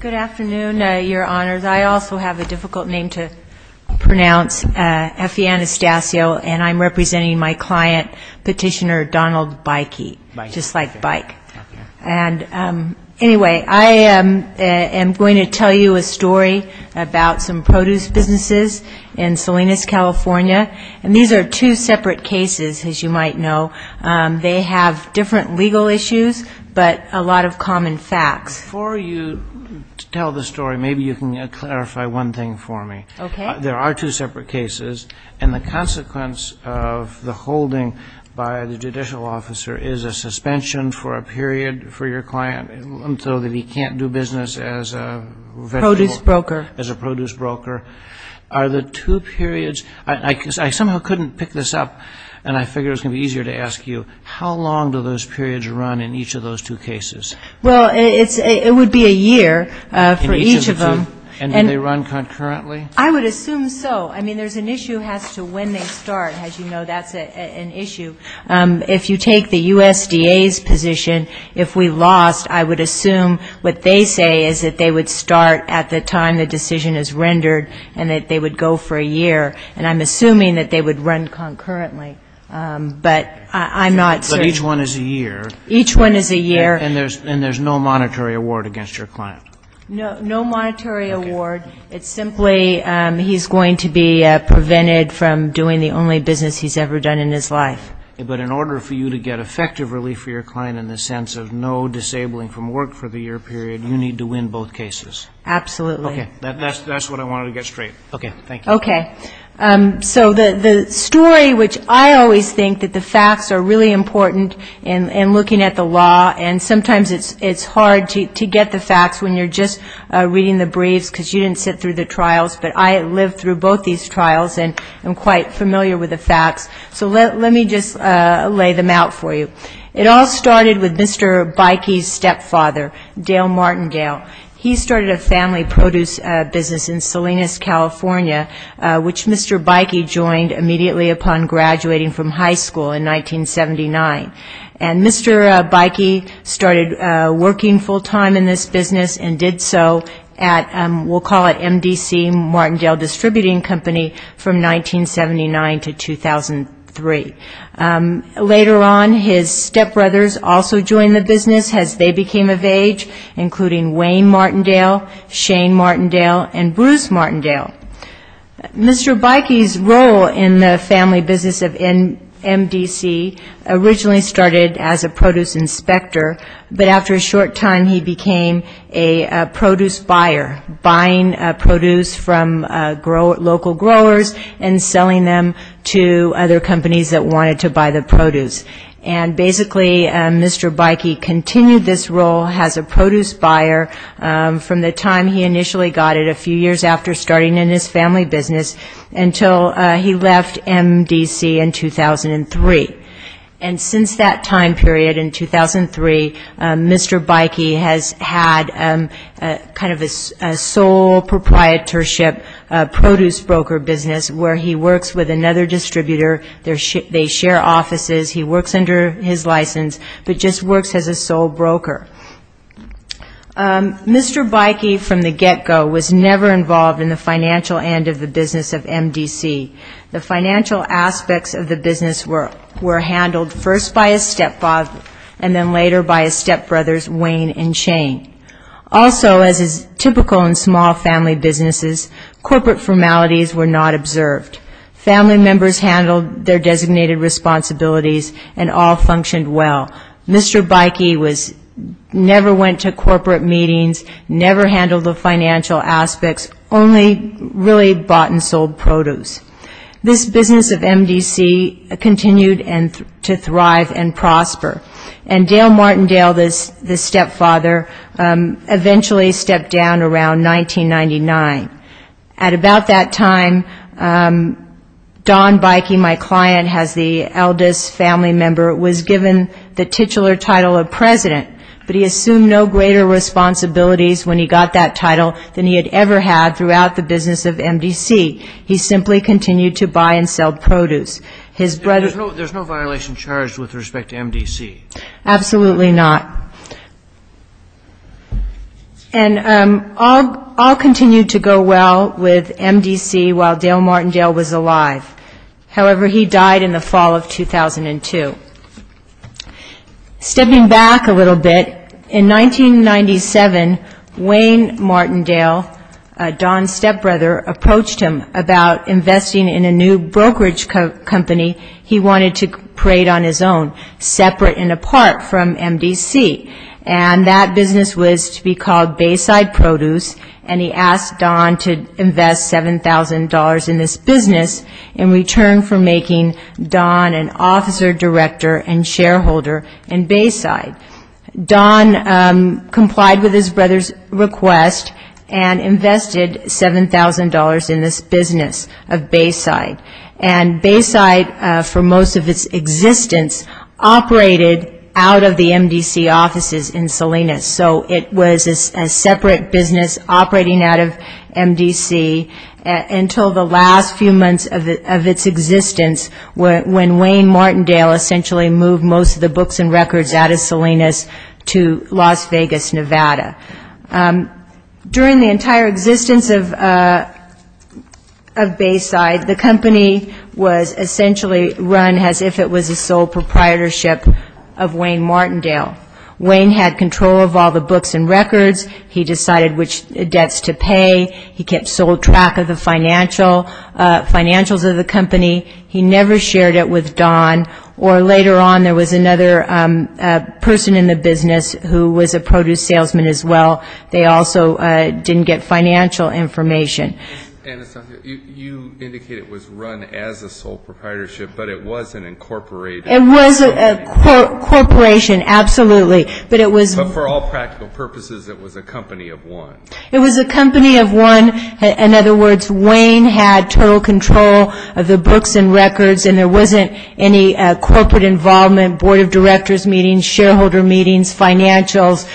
Good afternoon, your honors. I also have a difficult name to pronounce, Effie Anastasio, and I'm representing my client, Petitioner Donald Beuke, just like bike. And anyway, I am going to tell you a story about some produce businesses in Salinas, California. These are two separate cases, as you might know. They have different legal issues, but a lot of common facts. Before you tell the story, maybe you can clarify one thing for me. There are two separate cases, and the consequence of the holding by the judicial officer is a suspension for a period for your client, so that he can't do business as a produce broker. Are the two periods, I somehow couldn't pick this up, and I figured it was going to be easier to ask you, how long do those periods run in each of those two cases? Well, it would be a year for each of them. And do they run concurrently? I would assume so. I mean, there's an issue as to when they start, as you know, that's an issue. If you take the USDA's position, if we lost, I would assume what they say is that they would start at the time the decision is rendered, and that they would go for a year. And I'm assuming that they would run concurrently. But I'm not certain. But each one is a year. Each one is a year. And there's no monetary award against your client. No, no monetary award. It's simply he's going to be prevented from doing the only business he's ever done in his life. But in order for you to get effective relief for your client in the sense of no disabling from work for the year period, you need to win both cases. Okay. That's what I wanted to get straight. Okay. Thank you. Okay. So the story, which I always think that the facts are really important in looking at the law, and sometimes it's hard to get the facts when you're just reading the briefs because you didn't sit through the trials. But I lived through both these trials and am quite familiar with the facts. So let me just lay them out for you. It all started with Mr. Beike's stepfather, Dale Martingale. He started a family produce business in Salinas, California, which Mr. Beike joined immediately upon graduating from high school in 1979. And Mr. Beike started working full-time in this business and did so at, we'll call it, MDC Martingale Distributing Company from 1979 to 2003. Later on, his stepbrothers also joined the business as they became of age, including Wayne Martingale, Shane Martingale, and Bruce Martingale. Mr. Beike's role in the family business of MDC originally started as a produce inspector. But after a short time, he became a produce buyer, buying produce from local growers and selling them to other companies that wanted to buy the produce. And basically, Mr. Beike continued this role as a from the time he initially got it a few years after starting in his family business until he left MDC in 2003. And since that time period in 2003, Mr. Beike has had kind of a sole proprietorship produce broker business where he works with another distributor. They share offices. He works under his license, but just works as a sole broker. Mr. Beike, from the get-go, was never involved in the financial end of the business of MDC. The financial aspects of the business were handled first by his stepfather and then later by his stepbrothers, Wayne and Shane. Also, as is typical in small family businesses, corporate formalities were not observed. Family members handled their designated responsibilities and all functioned well. Mr. Beike never went to corporate meetings, never handled the financial aspects, only really bought and sold produce. This business of MDC continued to thrive and prosper. And Dale Martindale, the stepfather, eventually stepped down around 1999. At about that time, Don Beike, my client, as the titular title of president, but he assumed no greater responsibilities when he got that title than he had ever had throughout the business of MDC. He simply continued to buy and sell produce. His brother... And there's no violation charged with respect to MDC? Absolutely not. And all continued to go well with MDC while Dale Martindale was alive. However, he stepped back a little bit. In 1997, Wayne Martindale, Don's stepbrother, approached him about investing in a new brokerage company he wanted to create on his own, separate and apart from MDC. And that business was to be called Bayside Produce, and he asked Don to invest $7,000 in this business in return for making Don an officer, director, and shareholder in Bayside. Don complied with his brother's request and invested $7,000 in this business of Bayside. And Bayside, for most of its existence, operated out of the MDC offices in Salinas. So it was a separate business operating out of its existence when Wayne Martindale essentially moved most of the books and records out of Salinas to Las Vegas, Nevada. During the entire existence of Bayside, the company was essentially run as if it was a sole proprietorship of Wayne Martindale. Wayne had control of all the books and records. He decided which company. He never shared it with Don. Or later on, there was another person in the business who was a produce salesman as well. They also didn't get financial information. And you indicate it was run as a sole proprietorship, but it wasn't incorporated. It was a corporation, absolutely. But it was But for all practical purposes, it was a company of one. It was a company of one. In other words, Wayne had total control of the books and records, and there wasn't any corporate involvement, board of directors meetings, shareholder meetings, financials.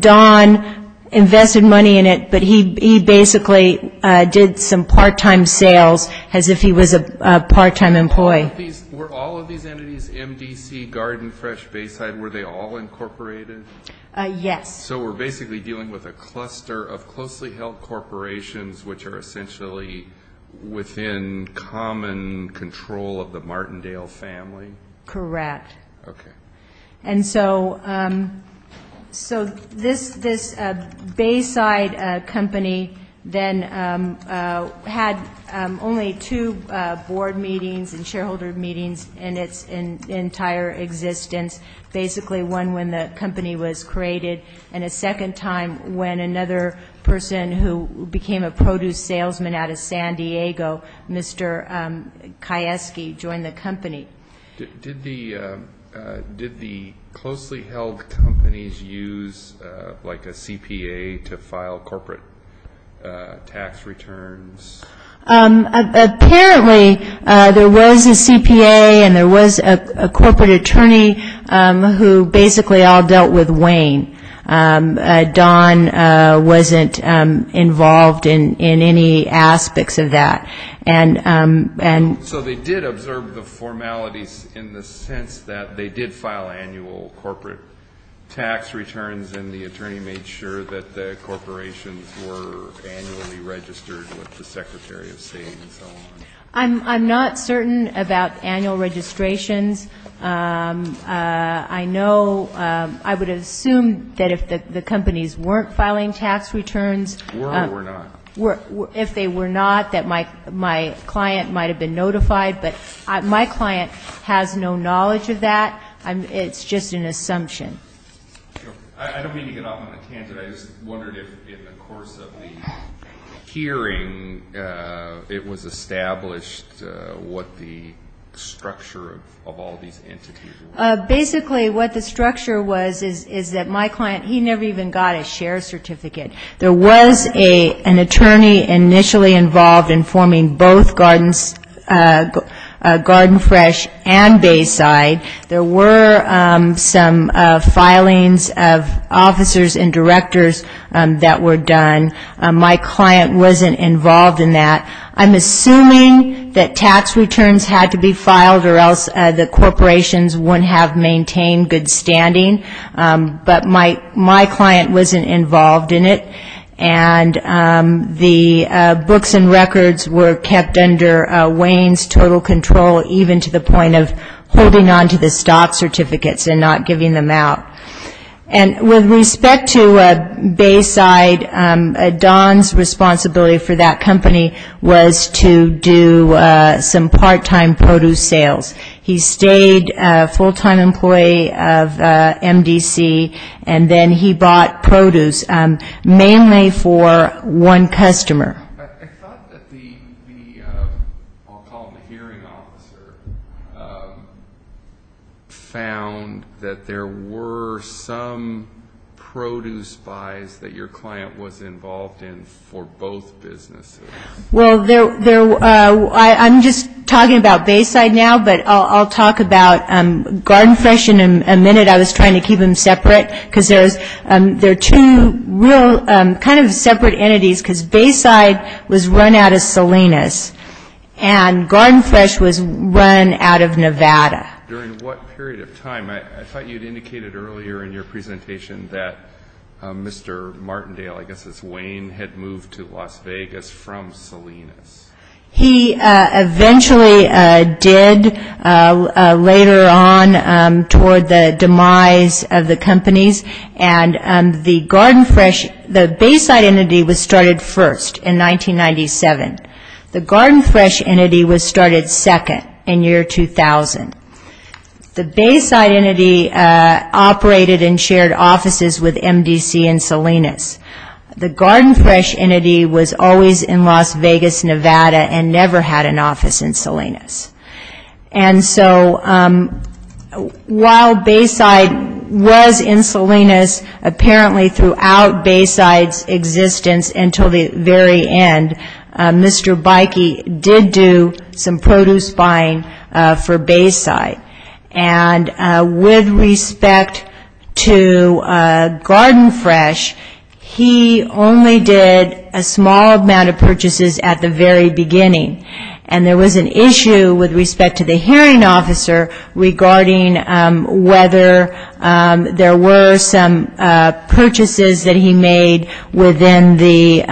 Don invested money in it, but he basically did some part-time sales as if he was a part-time employee. Were all of these entities MDC, Garden Fresh, Bayside, were they all incorporated? Yes. So we're basically dealing with a cluster of closely held corporations, which are essentially within common control of the Martindale family? Correct. Okay. And so this Bayside company then had only two board meetings and shareholder meetings in its entire existence. Basically one when the company was created, and a second time when another person who became a produce salesman out of San Diego, Mr. Kayeski, joined the company. Did the closely held companies use, like, a CPA to file corporate tax returns? Apparently there was a CPA and there was a corporate attorney who basically all dealt with Wayne. Don wasn't involved in any aspects of that. So they did observe the formalities in the sense that they did file annual corporate tax returns, and the attorney made sure that the corporations were annually registered with the Secretary of State and so on. I'm not certain about annual registrations. I know I would assume that if the companies weren't filing tax returns. Were or were not? If they were not, that my client might have been notified, but my client has no knowledge of that. It's just an assumption. I don't mean to get off on a candidate. I just wondered if in the course of the hearing it was established what the structure of all these entities was. Basically what the structure was is that my client, he never even got a share certificate. There was an attorney initially involved in forming both Garden Fresh and Bayside. There were some filings of officers and directors that were done. My client wasn't involved in that. I'm assuming that tax returns had to be filed or else the corporations wouldn't have maintained good standing. But my client wasn't involved in it. And the books and records were kept under Wayne's total control, even to the point of holding on to the stock certificates and not giving them out. And with respect to Bayside, Don's responsibility for that company was to do some part-time produce sales. He stayed a full-time employee of MDC and then he bought produce. Mainly for one customer. I thought that the, I'll call him the hearing officer, found that there were some produce buys that your client was involved in for both businesses. Well, I'm just talking about Bayside now, but I'll talk about Garden Fresh in a minute. I was trying to keep them separate because they're two real kind of separate entities because Bayside was run out of Salinas and Garden Fresh was run out of Nevada. During what period of time? I thought you'd indicated earlier in your presentation that Mr. Martindale, I guess it's Wayne, had moved to Las Vegas from Salinas. He eventually did later on toward the demise of the companies and the Garden Fresh, the Bayside entity was started first in 1997. The Garden Fresh entity was started second in year 2000. The Bayside entity operated in shared offices with MDC and Salinas. The Garden Fresh entity was always in Las Vegas, Nevada and never had an office in Salinas. And so while Bayside was in Salinas, apparently throughout Bayside's existence until the very end, Mr. Beike did do some produce buying for Bayside. And with respect to Garden Fresh, he only did a small amount of purchases at the very beginning. And there was an issue with respect to the hearing officer regarding whether there were some purchases that he made within the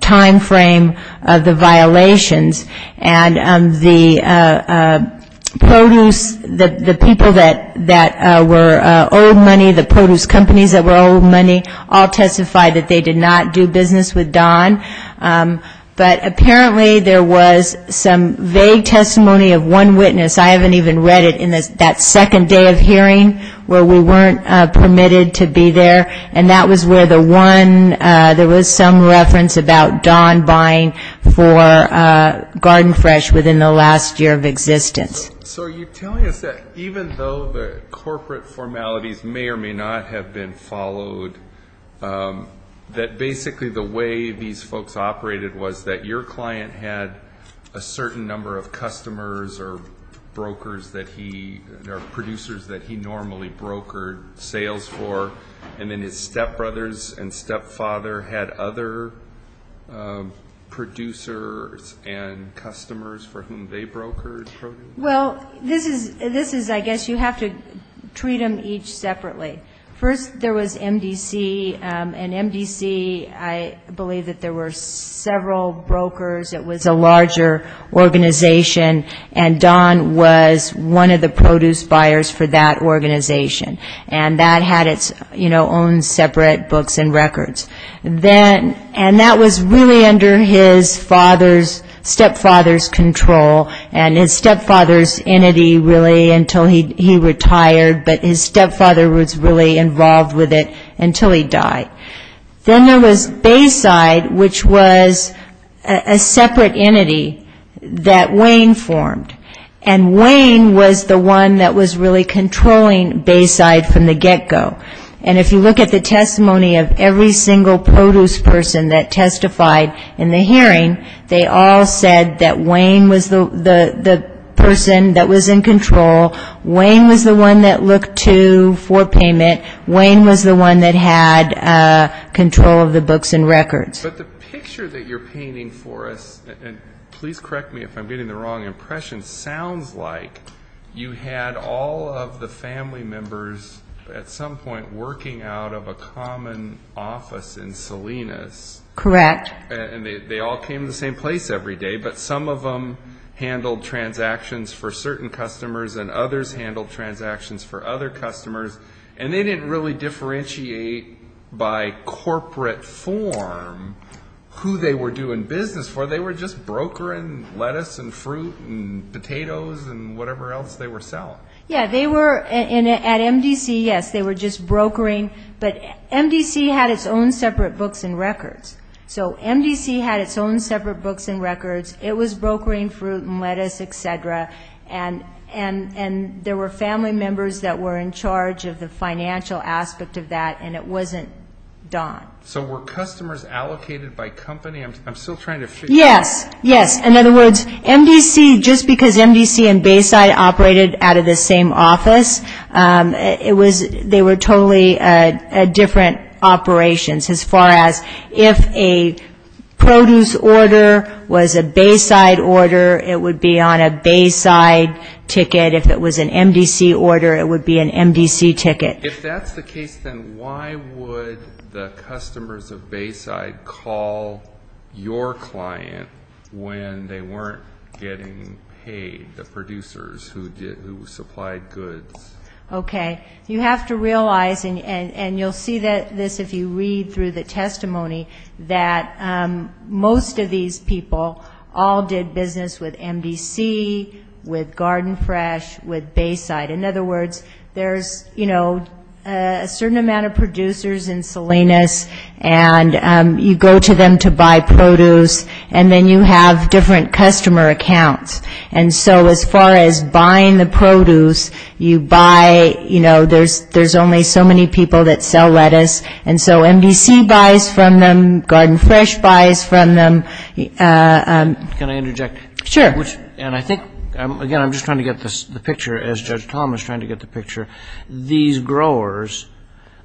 timeframe of the violations. And the produce, the people that were owed money, the produce companies that were owed money all testified that they did not do business with Don. But apparently there was some vague testimony of one witness. I haven't even read it in that second day of hearing where we weren't permitted to be there. And that was where the one, there was some reference about Don buying for Garden Fresh within the last year of existence. So are you telling us that even though the corporate formalities may or may not have been followed, that basically the way these folks operated was that your client had a certain number of customers or brokers that he, or producers that he normally brokered sales for, and then his stepbrothers and stepfather had other producers and customers for whom they brokered produce? Well, this is, I guess you have to treat them each separately. First there was MDC, and MDC, I believe that there were several brokers. It was a larger organization. And Don was one of the produce buyers for that organization. And that had its own separate books and records. And that was really under his father's, stepfather's control, and his stepfather's entity really until he retired, but his stepfather was really involved with it until he died. Then there was Bayside, which was a separate entity that Wayne formed. And Wayne was the one that was really controlling Bayside from the get-go. And if you look at the testimony of every single produce person that testified in the hearing, they all said that Wayne was the person that was in control, Wayne was the one that looked to for payment, Wayne was the one that had control of the books and records. But the picture that you're painting for us, and please correct me if I'm getting the wrong impression, sounds like you had all of the family members at some point working out of a common office in Salinas. Correct. And they all came to the same place every day, but some of them handled transactions for certain customers and others handled transactions for other customers, and they didn't really differentiate by corporate form who they were doing business for. They were just brokering lettuce and fruit and potatoes and whatever else they were selling. Yeah, they were, at MDC, yes, they were just brokering, but MDC had its own separate books and records. So MDC had its own separate books and records, it was brokering fruit and lettuce, et cetera, and there were family members that were in charge of the financial aspect of that, and it wasn't Don. So were customers allocated by company? I'm still trying to figure that out. Yes, yes. In other words, MDC, just because MDC and Bayside operated out of the same office, they were totally different operations as far as if a produce order was a Bayside order, it would be on a Bayside ticket. If it was an MDC order, it would be an MDC ticket. If that's the case, then why would the customers of Bayside call your client when they weren't getting paid, the producers who supplied goods? Okay. You have to realize, and you'll see this if you read through the testimony, that most of these people all did business with MDC, with Garden Fresh, with Bayside. In other words, there's, you know, a certain amount of producers in Salinas, and you go to them to buy produce, and then you have different customer accounts. And so as far as buying the produce, you buy, you know, there's only so many people that sell lettuce, and so MDC buys from them, Garden Fresh buys from them. Can I interject? Sure. And I think, again, I'm just trying to get the picture, as Judge Tom is trying to get the picture, these growers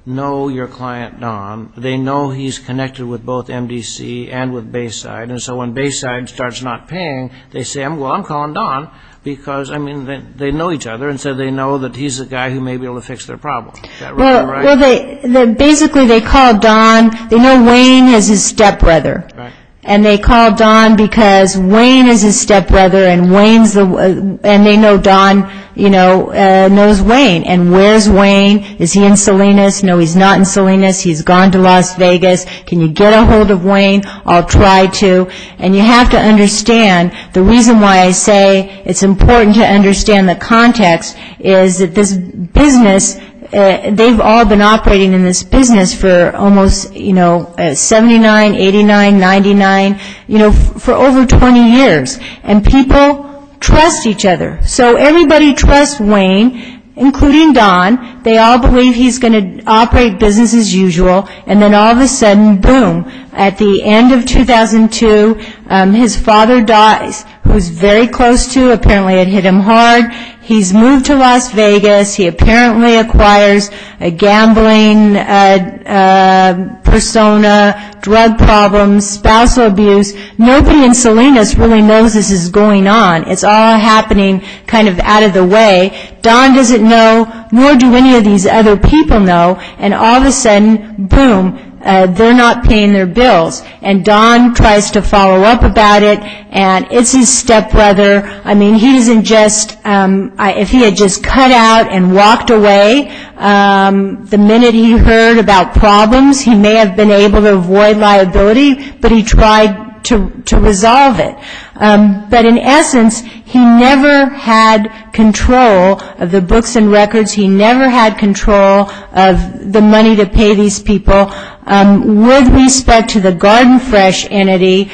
know your client, Don. They know he's connected with both MDC and with Bayside, and so when Bayside starts not paying, they say, well, I'm calling Don, because, I mean, they know each other, and so they know that he's the guy who may be able to fix their problem. Is that right? Well, basically they call Don, they know Wayne is his stepbrother, and they call Don because Wayne is his stepbrother, and they know Don, you know, knows Wayne. And where's Wayne? Is he in Salinas? No, he's not in Salinas. He's gone to Las Vegas. Can you get a hold of Wayne? I'll try to. And you have to understand, the reason why I say it's important to understand the context is that this business, they've all been operating in this business for almost, you know, 79, 89, 99, you know, for over 20 years, and people trust each other, so everybody trusts Wayne, including Don. They all believe he's going to operate business as usual, and then all of a sudden, boom, at the end of 2002, his father dies, who's very close to, apparently it hit him hard. He's moved to Las Vegas. He apparently acquires a gambling persona, drug problems, spousal abuse. Nobody in Salinas really knows this is going on. It's all happening kind of out of the way. Don doesn't know, nor do any of these other people know, and all of a sudden, boom, they're not paying their bills. And Don tries to follow up about it, and it's his stepbrother. I mean, he isn't just, if he had just cut out and walked away, the minute he heard about problems, he may have been able to avoid liability, but he tried to resolve it. But in essence, he never had control of the books and records. He never had control of the money to pay these people. With respect to the Garden Fresh entity,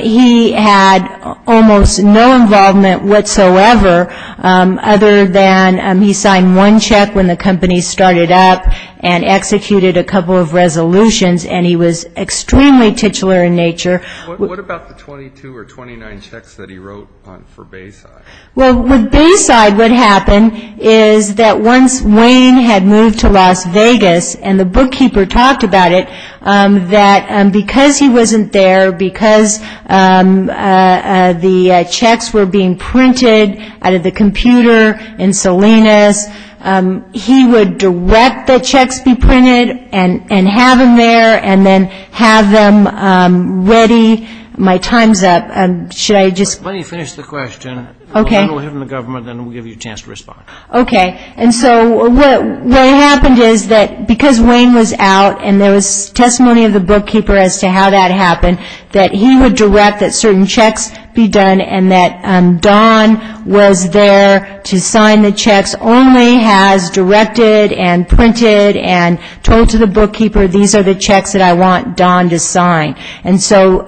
he had almost no involvement whatsoever, other than he signed one check when the company started up, and executed a couple of resolutions, and he was extremely titular in nature. What about the 22 or 29 checks that he wrote for Bayside? Well, with Bayside, what happened is that once Wayne had moved to Las Vegas, and the bookkeeper talked about it, that because he wasn't there, because the checks were being printed out of the computer in Salinas, he would direct the checks be printed, and have them there, and then have them ready. My time's up. Should I just... Okay. And so what happened is that because Wayne was out, and there was testimony of the bookkeeper as to how that happened, that he would direct that certain checks be done, and that Don was there to sign the checks, only has directed and printed and told to the bookkeeper, these are the checks that I want Don to sign. And so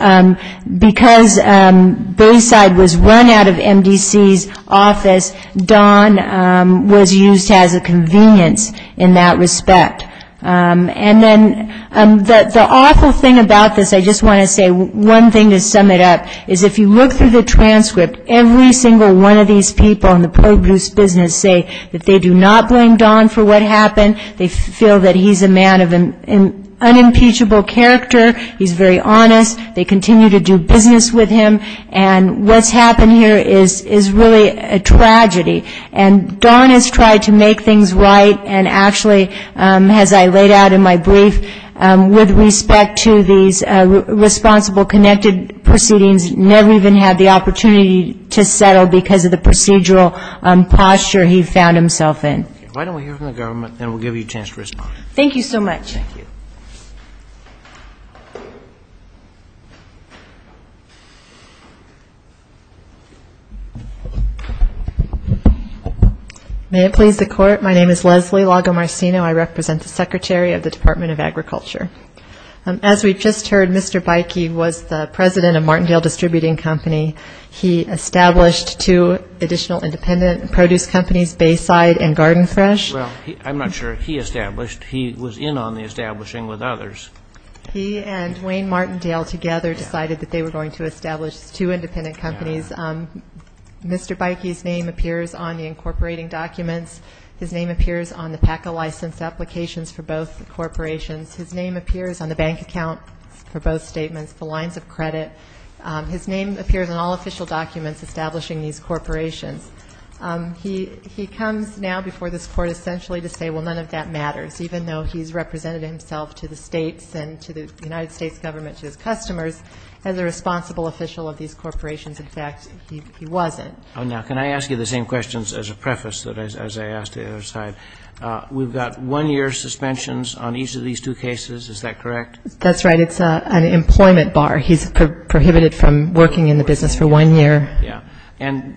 because Bayside was run out of MDC's office, Don was used as a convenience in that respect. And then the awful thing about this, I just want to say one thing to sum it up, is if you look through the transcript, every single one of these people in the produce business say that they do not blame Don for what happened, they feel that he's a man of unimpeachable character, he's very honest, they continue to do business with him, and what's happened here is really a tragedy. And Don has tried to make things right, and actually, as I laid out in my brief, with respect to these responsible connected proceedings, never even had the opportunity to settle because of the procedural posture he found himself in. Why don't we hear from the government, and we'll give you a chance to respond. Thank you so much. May it please the Court, my name is Leslie Lagomarsino, I represent the Secretary of the Department of Agriculture. As we've just heard, Mr. Beike was the president of Martindale Distributing Company. He established two additional independent produce companies, Bayside and Garden Fresh. Well, I'm not sure he established, he was in on the establishing with others. He and Wayne Martindale together decided that they were going to establish two independent companies. Mr. Beike's name appears on the incorporating documents, his name appears on the PACA license applications for both corporations, his name appears on the bank account for both statements, the lines of credit, his name appears on all official documents establishing these corporations. He comes now before this Court essentially to say, well, none of that matters, even though he's represented himself to the States and to the United States government, to his customers, as a responsible official of these corporations. In fact, he wasn't. Now, can I ask you the same questions as a preface, as I asked the other side? We've got one-year suspensions on each of these two cases, is that correct? That's right. It's an employment bar. He's prohibited from working in the business for one year. Yeah. And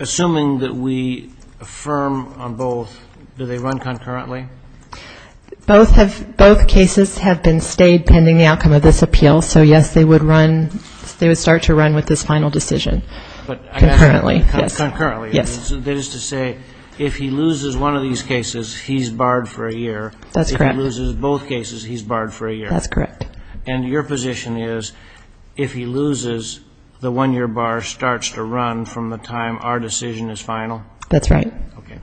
assuming that we affirm on both, do they run concurrently? Both cases have been stayed pending the outcome of this appeal, so, yes, they would start to run with this final decision concurrently. Concurrently. Yes. That is to say, if he loses one of these cases, he's barred for a year. That's correct. If he loses both cases, he's barred for a year. That's correct. And your position is, if he loses, the one-year bar starts to run from the time our decision is final? That's right. Okay.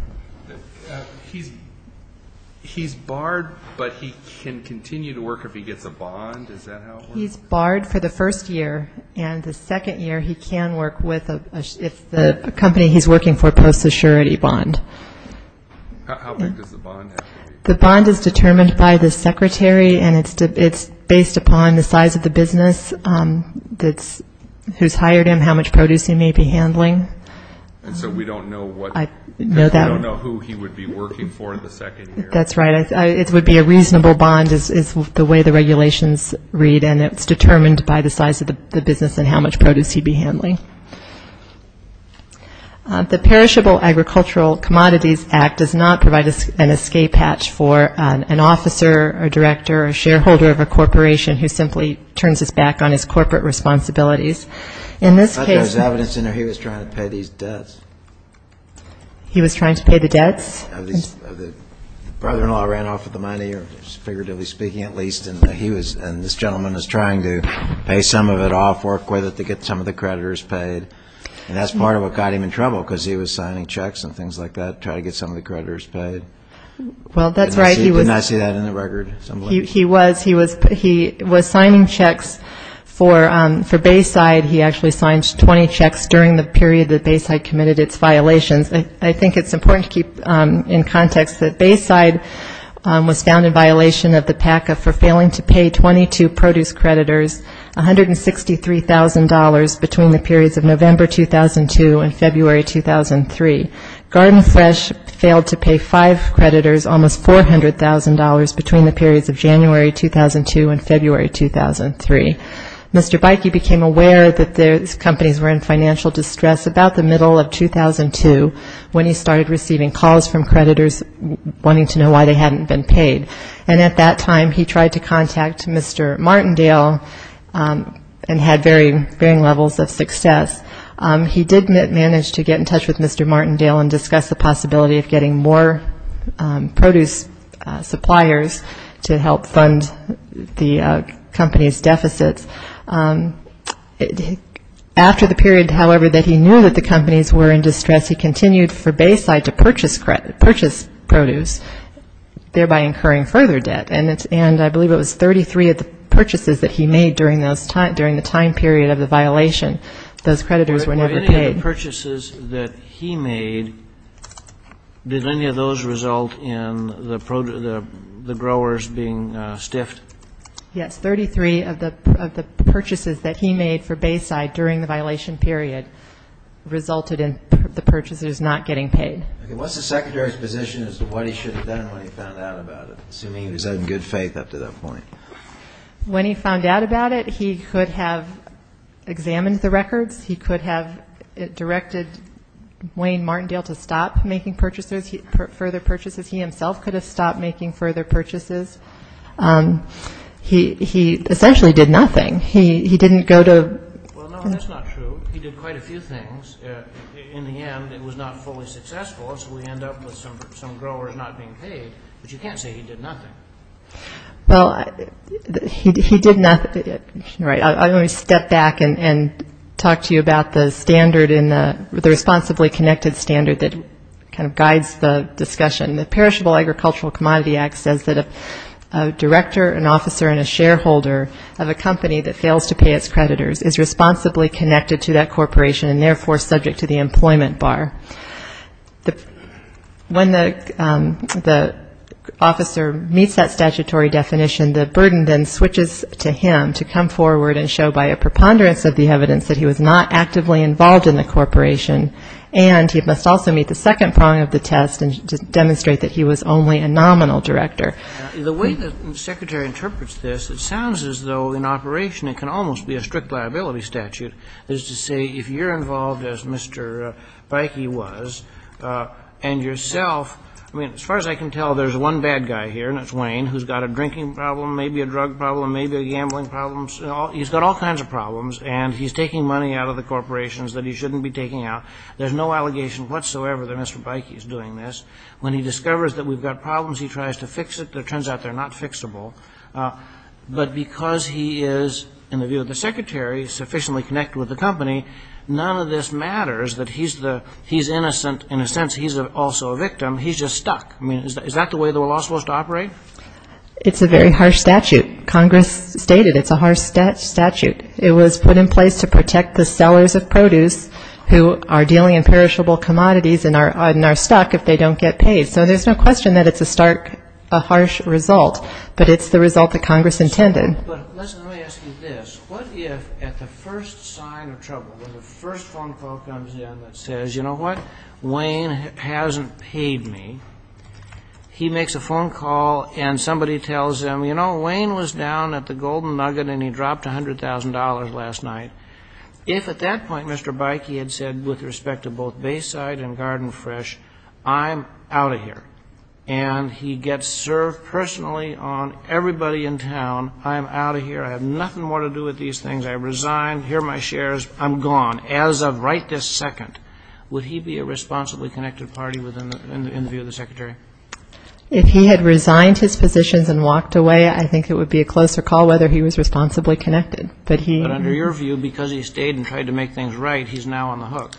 He's barred, but he can continue to work if he gets a bond? Is that how it works? He's barred for the first year, and the second year he can work if the company he's working for posts a surety bond. How big does the bond have to be? The bond is determined by the secretary, and it's based upon the size of the business who's hired him, how much produce he may be handling. And so we don't know who he would be working for in the second year? That's right. It would be a reasonable bond is the way the regulations read, and it's determined by the size of the business and how much produce he'd be handling. The Perishable Agricultural Commodities Act does not provide an escape hatch for an officer or director or shareholder of a corporation who simply turns his back on his corporate responsibilities. In this case he was trying to pay these debts. He was trying to pay the debts? The brother-in-law ran off with the money, figuratively speaking at least, and this gentleman is trying to pay some of it off, work with it to get some of the creditors paid. And that's part of what got him in trouble, because he was signing checks and things like that to try to get some of the creditors paid. Well, that's right. Didn't I see that in the record? He was. He was signing checks for Bayside. He actually signed 20 checks during the period that Bayside committed its violations. I think it's important to keep in context that Bayside was found in violation of the PACA for failing to pay 22 produce creditors $163,000 between the periods of November 2002 and February 2003. Garden Fresh failed to pay five creditors almost $400,000 between the periods of January 2002 and February 2003. Mr. Beike became aware that these companies were in financial distress about the middle of 2002 when he started receiving calls from creditors wanting to know why they hadn't been paid. And at that time, he tried to contact Mr. Martindale and had varying levels of success. He did manage to get in touch with Mr. Martindale and discuss the possibility of getting more produce suppliers to help fund the company's deficits. After the period, however, that he knew that the companies were in distress, he continued for Bayside to purchase produce, thereby incurring further debt. And I believe it was 33 of the purchases that he made during the time period of the violation. Those creditors were never paid. For any of the purchases that he made, did any of those result in the growers being stiffed? Yes, 33 of the purchases that he made for Bayside during the violation period resulted in the purchase of produce. What's the Secretary's position as to what he should have done when he found out about it, assuming he was in good faith up to that point? When he found out about it, he could have examined the records. He could have directed Wayne Martindale to stop making purchases, further purchases. He himself could have stopped making further purchases. He essentially did nothing. He didn't go to... Well, no, that's not true. He did quite a few things. In the end, it was not fully successful, so we end up with some growers not being paid. But you can't say he did nothing. Well, he did not. Let me step back and talk to you about the standard, the responsibly connected standard that kind of guides the discussion. The Perishable Agricultural Commodity Act says that a director, an officer, and a shareholder of a company that fails to pay its creditors is responsibly connected to that corporation and therefore subject to the employment bar. When the officer meets that statutory definition, the burden then switches to him to come forward and show by a preponderance of the evidence that he was not actively involved in the corporation, and he must also meet the second prong of the test and demonstrate that he was only a nominal director. The way the Secretary interprets this, it sounds as though in operation it can almost be a strict liability statute. That is to say, if you're involved, as Mr. Beike was, and yourself, I mean, as far as I can tell, there's one bad guy here, and that's Wayne, who's got a drinking problem, maybe a drug problem, maybe a gambling problem. He's got all kinds of problems, and he's taking money out of the corporations that he shouldn't be taking out. There's no allegation whatsoever that Mr. Beike is doing this. When he discovers that we've got problems, he tries to fix it, but it turns out they're not fixable. But because he is, in the view of the Secretary, sufficiently connected with the company, none of this matters, that he's innocent in a sense, he's also a victim, he's just stuck. I mean, is that the way the law is supposed to operate? It's a very harsh statute. Congress stated it's a harsh statute. It was put in place to protect the sellers of produce who are dealing in perishable commodities and are stuck if they don't get paid. So there's no question that it's a stark, a harsh result, but it's the result that Congress intended. But listen, let me ask you this. What if at the first sign of trouble, when the first phone call comes in that says, you know what, Wayne hasn't paid me, he makes a phone call and somebody tells him, you know, Wayne was down at the Golden Nugget and he dropped $100,000 last night, if at that point Mr. Beike had said with respect to both Bayside and Garden Fresh, I'm out of here, and he gets served personally on everybody in town, I'm out of here, I have nothing more to do with these things, I resign, here are my shares, I'm gone, as of right this second, would he be a responsibly connected party in the view of the Secretary? If he had resigned his positions and walked away, I think it would be a closer call whether he was responsibly connected. But under your view, because he stayed and tried to make things right, he's now on the hook.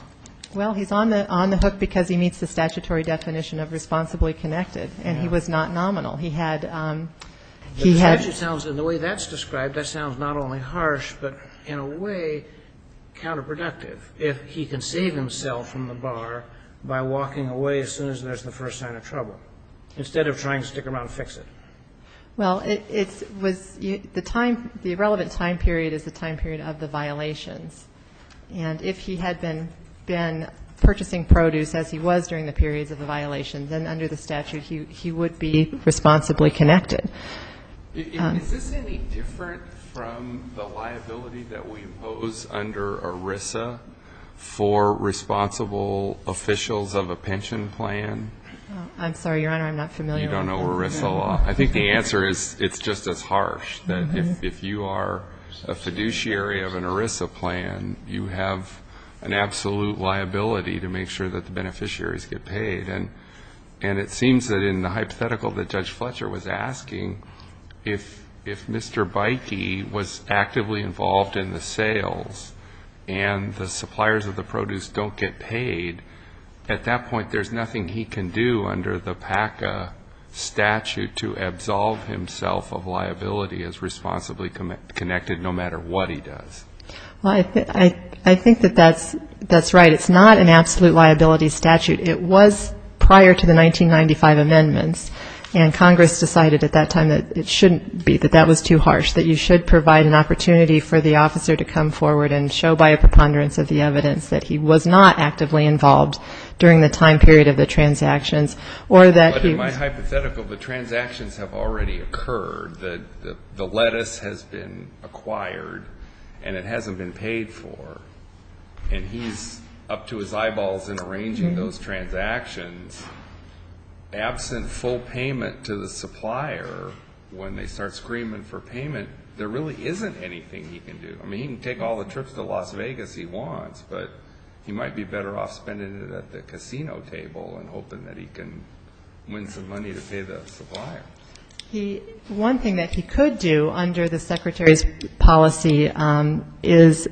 Well, he's on the hook because he meets the statutory definition of responsibly connected, and he was not nominal. The statute sounds, and the way that's described, that sounds not only harsh, but in a way counterproductive. If he can save himself from the bar by walking away as soon as there's the first sign of trouble, instead of trying to stick around and fix it. Well, it was the time, the relevant time period is the time period of the violations. And if he had been purchasing produce as he was during the periods of the violations, then under the statute he would be responsibly connected. Is this any different from the liability that we impose under ERISA for responsible officials of a pension plan? I'm sorry, Your Honor, I'm not familiar with that. You don't know ERISA law? I think the answer is it's just as harsh. If you are a fiduciary of an ERISA plan, you have an absolute liability to make sure that the beneficiaries get paid. And it seems that in the hypothetical that Judge Fletcher was asking, if Mr. Bykey was actively involved in the sales and the suppliers of the produce don't get paid, at that point there's nothing he can do under the PACA statute to absolve himself of liability as responsibly connected, no matter what he does. Well, I think that that's right. It's not an absolute liability statute. It was prior to the 1995 amendments, and Congress decided at that time that it shouldn't be, that that was too harsh, that you should provide an opportunity for the officer to come forward and show by a preponderance of the evidence that he was not actively involved during the time period of the transactions or that he was. But in my hypothetical, the transactions have already occurred. The lettuce has been acquired, and it hasn't been paid for. And he's up to his eyeballs in arranging those transactions. Absent full payment to the supplier, when they start screaming for payment, there really isn't anything he can do. I mean, he can take all the trips to Las Vegas he wants, but he might be better off spending it at the casino table and hoping that he can win some money to pay the supplier. One thing that he could do under the secretary's policy is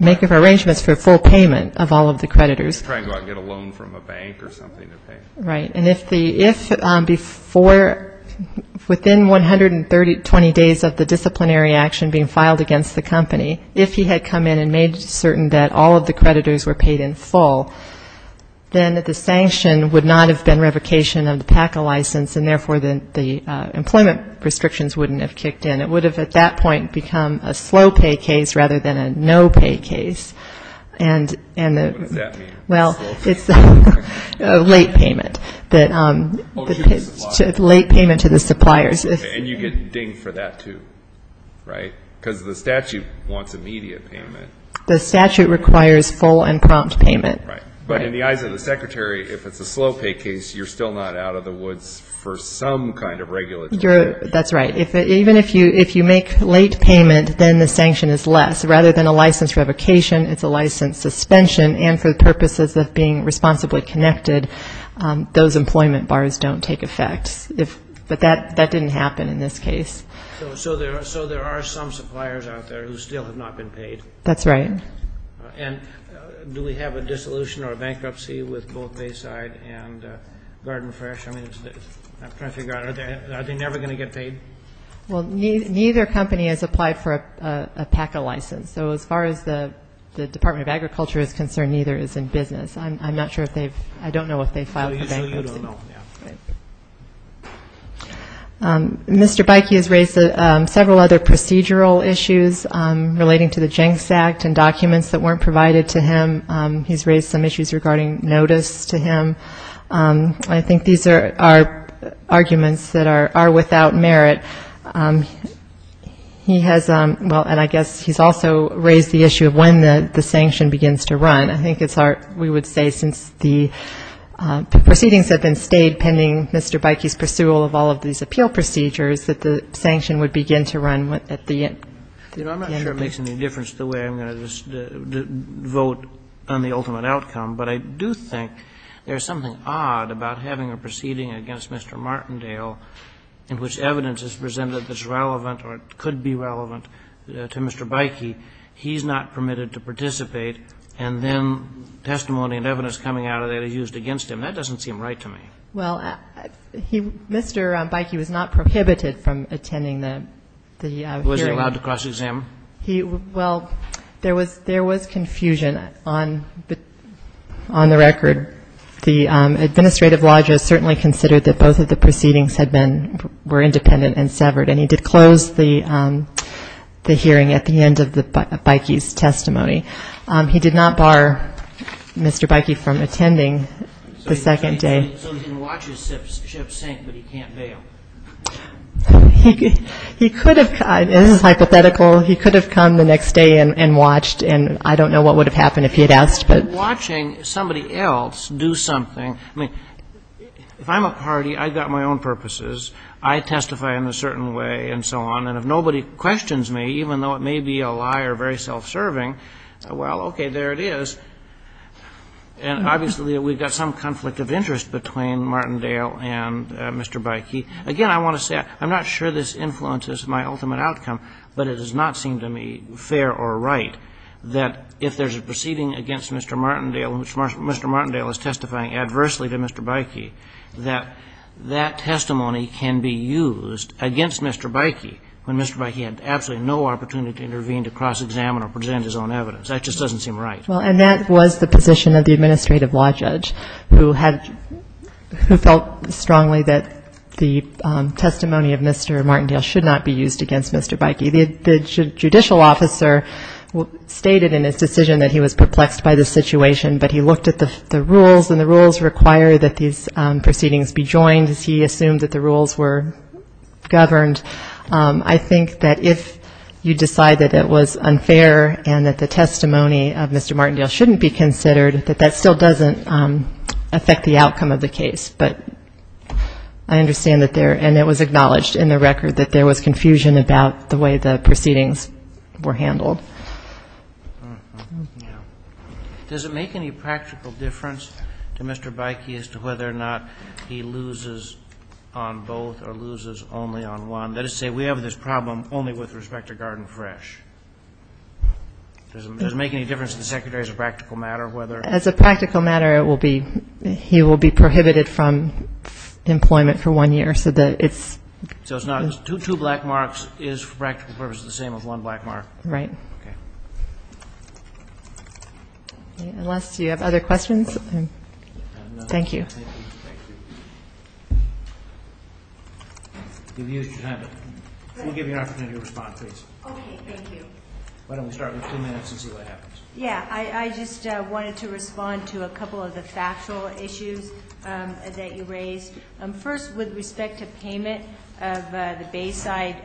make arrangements for full payment of all of the creditors. Try and go out and get a loan from a bank or something to pay. Right. And if within 120 days of the disciplinary action being filed against the company, if he had come in and made certain that all of the creditors were paid in full, then the sanction would not have been revocation of the PACA license, and therefore the employment restrictions wouldn't have kicked in. It would have, at that point, become a slow pay case rather than a no pay case. And the ‑‑ What does that mean? Well, it's a late payment. Late payment to the suppliers. And you get dinged for that, too, right? Because the statute wants immediate payment. The statute requires full and prompt payment. But in the eyes of the secretary, if it's a slow pay case, you're still not out of the woods for some kind of regulatory action. That's right. Even if you make late payment, then the sanction is less. Rather than a license revocation, it's a license suspension, and for the purposes of being responsibly connected, those employment bars don't take effect. But that didn't happen in this case. So there are some suppliers out there who still have not been paid. That's right. And do we have a dissolution or a bankruptcy with both Bayside and Garden Fresh? I'm trying to figure out, are they never going to get paid? Well, neither company has applied for a PACA license. So as far as the Department of Agriculture is concerned, neither is in business. I'm not sure if they've ‑‑I don't know if they've filed for bankruptcy. Well, usually you don't know. Mr. Beike has raised several other procedural issues relating to the Jenks Act and documents that weren't provided to him. He's raised some issues regarding notice to him. I think these are arguments that are without merit. He has ‑‑well, and I guess he's also raised the issue of when the sanction begins to run. I think it's our ‑‑ we would say since the proceedings have been stayed pending Mr. Beike's pursual of all of these appeal procedures, that the sanction would begin to run at the end. You know, I'm not sure it makes any difference the way I'm going to vote on the ultimate outcome, but I do think there's something odd about having a proceeding against Mr. Martindale in which evidence is presented that's relevant or could be relevant to Mr. Beike. He's not permitted to participate, and then testimony and evidence coming out of that is used against him. That doesn't seem right to me. Well, Mr. Beike was not prohibited from attending the hearing. Was he allowed to cross-exam? Well, there was confusion on the record. The administrative lodger certainly considered that both of the proceedings were independent and severed, and he did close the hearing at the end of Beike's testimony. He did not bar Mr. Beike from attending the second day. So he can watch his ship sink, but he can't bail. He could have ‑‑ this is hypothetical. He could have come the next day and watched, and I don't know what would have happened if he had asked. Watching somebody else do something, I mean, if I'm a party, I've got my own purposes, I testify in a certain way and so on, and if nobody questions me, even though it may be a liar, very self-serving, well, okay, there it is. And obviously we've got some conflict of interest between Martindale and Mr. Beike. Again, I want to say I'm not sure this influences my ultimate outcome, but it does not seem to me fair or right that if there's a proceeding against Mr. Martindale in which Mr. Martindale is testifying adversely to Mr. Beike, that that testimony can be used against Mr. Beike when Mr. Beike had absolutely no opportunity to intervene to cross-examine or present his own evidence. That just doesn't seem right. Well, and that was the position of the administrative law judge who had ‑‑ who felt strongly that the testimony of Mr. Martindale should not be used against Mr. Beike. The judicial officer stated in his decision that he was perplexed by the situation, but he looked at the rules, and the rules require that these proceedings be joined, as he assumed that the rules were governed. I think that if you decide that it was unfair and that the testimony of Mr. Martindale shouldn't be considered, that that still doesn't affect the outcome of the case. But I understand that there ‑‑ and it was acknowledged in the record that there was confusion about the way the proceedings were handled. Does it make any practical difference to Mr. Beike as to whether or not he loses on both or loses only on one? Let us say we have this problem only with respect to Garden Fresh. Does it make any difference to the Secretary as a practical matter whether ‑‑ As a practical matter, it will be ‑‑ he will be prohibited from employment for one year, so that it's ‑‑ So it's not two black marks is for practical purposes the same as one black mark. Right. Okay. Unless you have other questions. Thank you. Thank you. We'll give you an opportunity to respond, please. Okay. Thank you. Why don't we start with two minutes and see what happens. Yeah. I just wanted to respond to a couple of the factual issues that you raised. First, with respect to payment of the Bayside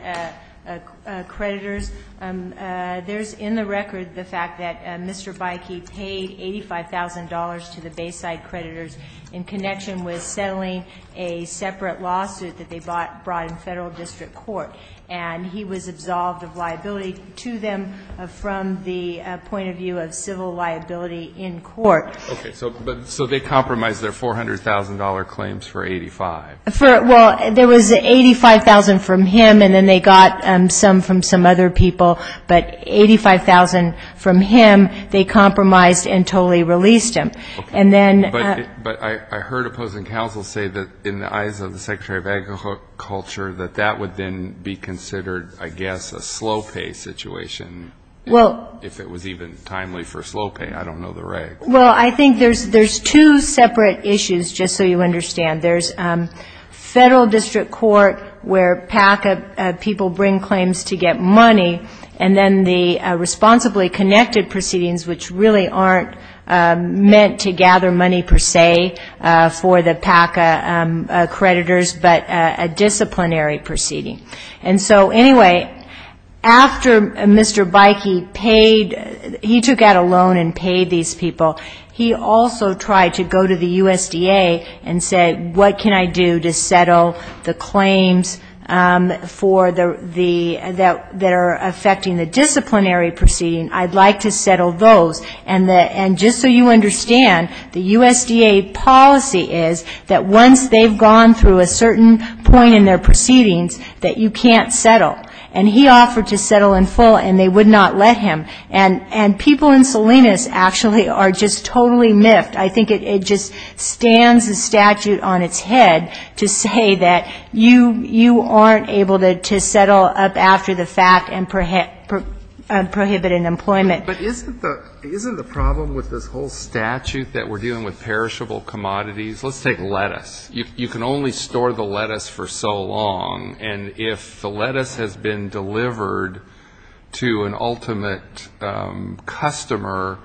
creditors, there's in the record the fact that Mr. Beike paid $85,000 to the Bayside creditors in connection with settling a separate lawsuit that they brought in federal district court, and he was absolved of liability to them from the point of view of civil liability in court. Okay. So they compromised their $400,000 claims for $85,000. Well, there was $85,000 from him, and then they got some from some other people, but $85,000 from him they compromised and totally released him. But I heard opposing counsel say that in the eyes of the Secretary of Agriculture that that would then be considered, I guess, a slow pay situation. If it was even timely for slow pay, I don't know the regs. Well, I think there's two separate issues, just so you understand. There's federal district court where PACA people bring claims to get money, and then the responsibly connected proceedings, which really aren't meant to gather money per se for the PACA creditors, but a disciplinary proceeding. And so, anyway, after Mr. Beike paid, he took out a loan and paid these people, he also tried to go to the USDA and say, what can I do to settle the claims that are affecting the disciplinary proceeding, I'd like to settle those. And just so you understand, the USDA policy is that once they've gone through a certain point in their proceedings, that you can't settle. And he offered to settle in full, and they would not let him. And people in Salinas actually are just totally miffed. I think it just stands the statute on its head to say that you aren't able to settle up after the fact and prohibit an employment. But isn't the problem with this whole statute that we're dealing with perishable commodities, let's take lettuce. You can only store the lettuce for so long, and if the lettuce has been delivered to an ultimate customer,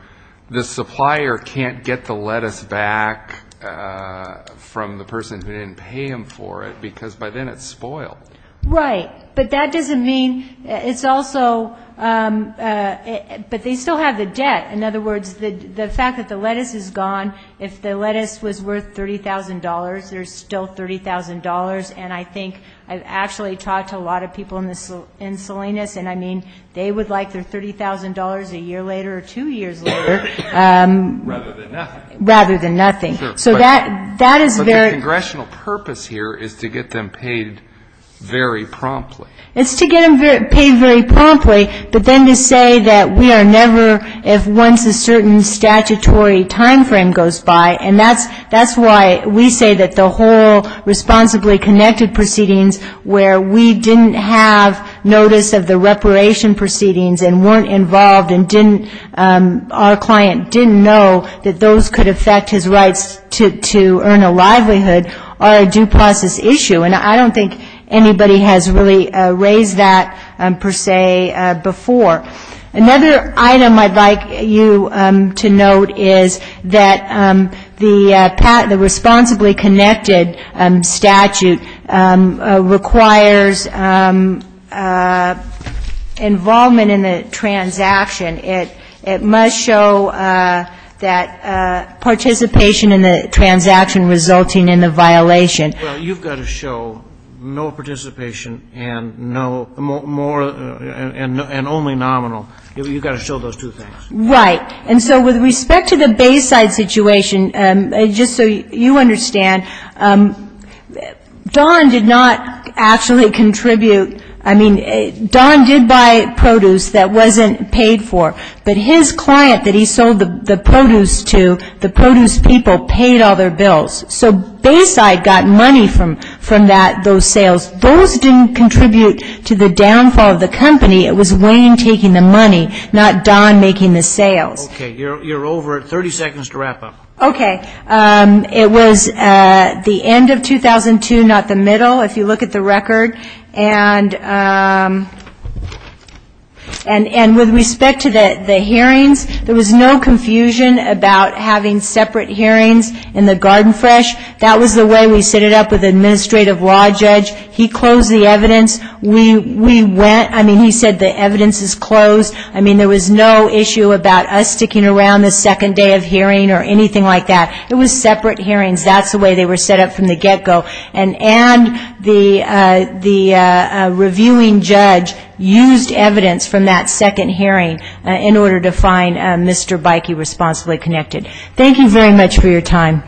the supplier can't get the lettuce back from the person who didn't pay him for it, because by then it's spoiled. Right, but that doesn't mean, it's also, but they still have the debt. In other words, the fact that the lettuce is gone, if the lettuce was worth $30,000, there's still $30,000, and I think I've actually talked to a lot of people in Salinas, and I mean, they would like their $30,000 a year later or two years later. Rather than nothing. But the congressional purpose here is to get them paid very promptly. It's to get them paid very promptly, but then to say that we are never, if once a certain statutory time frame goes by, and that's why we say that the whole responsibly connected proceedings where we didn't have notice of the reparation proceedings and weren't involved and didn't, our client didn't know that those could affect his rights to earn a livelihood, are a due process issue, and I don't think anybody has really raised that, per se, before. Another item I'd like you to note is that the responsibly connected statute requires involvement in the process and that if there is involvement in the transaction, it must show that participation in the transaction resulting in the violation. Well, you've got to show no participation and no, more, and only nominal. You've got to show those two things. Right. And so with respect to the Bayside situation, just so you understand, Don did not actually contribute. I mean, Don did buy produce that wasn't paid for, but his client that he sold the produce to, the produce people, paid all their bills. So Bayside got money from that, those sales. Those didn't contribute to the downfall of the company, it was Wayne taking the money, not Don making the sales. Okay. You're over 30 seconds to wrap up. Okay. It was the end of 2002, not the middle, if you look at the record. And with respect to the hearings, there was no confusion about having separate hearings in the Garden Fresh. That was the way we set it up with the administrative law judge. He closed the evidence. We went, I mean, he said the evidence is closed. I mean, there was no issue about us sticking around the second day of hearing or anything like that. It was separate hearings. That's the way they were set up from the get-go. And the reviewing judge used evidence from that second hearing in order to find Mr. Beike responsibly connected. Thank you very much for your time.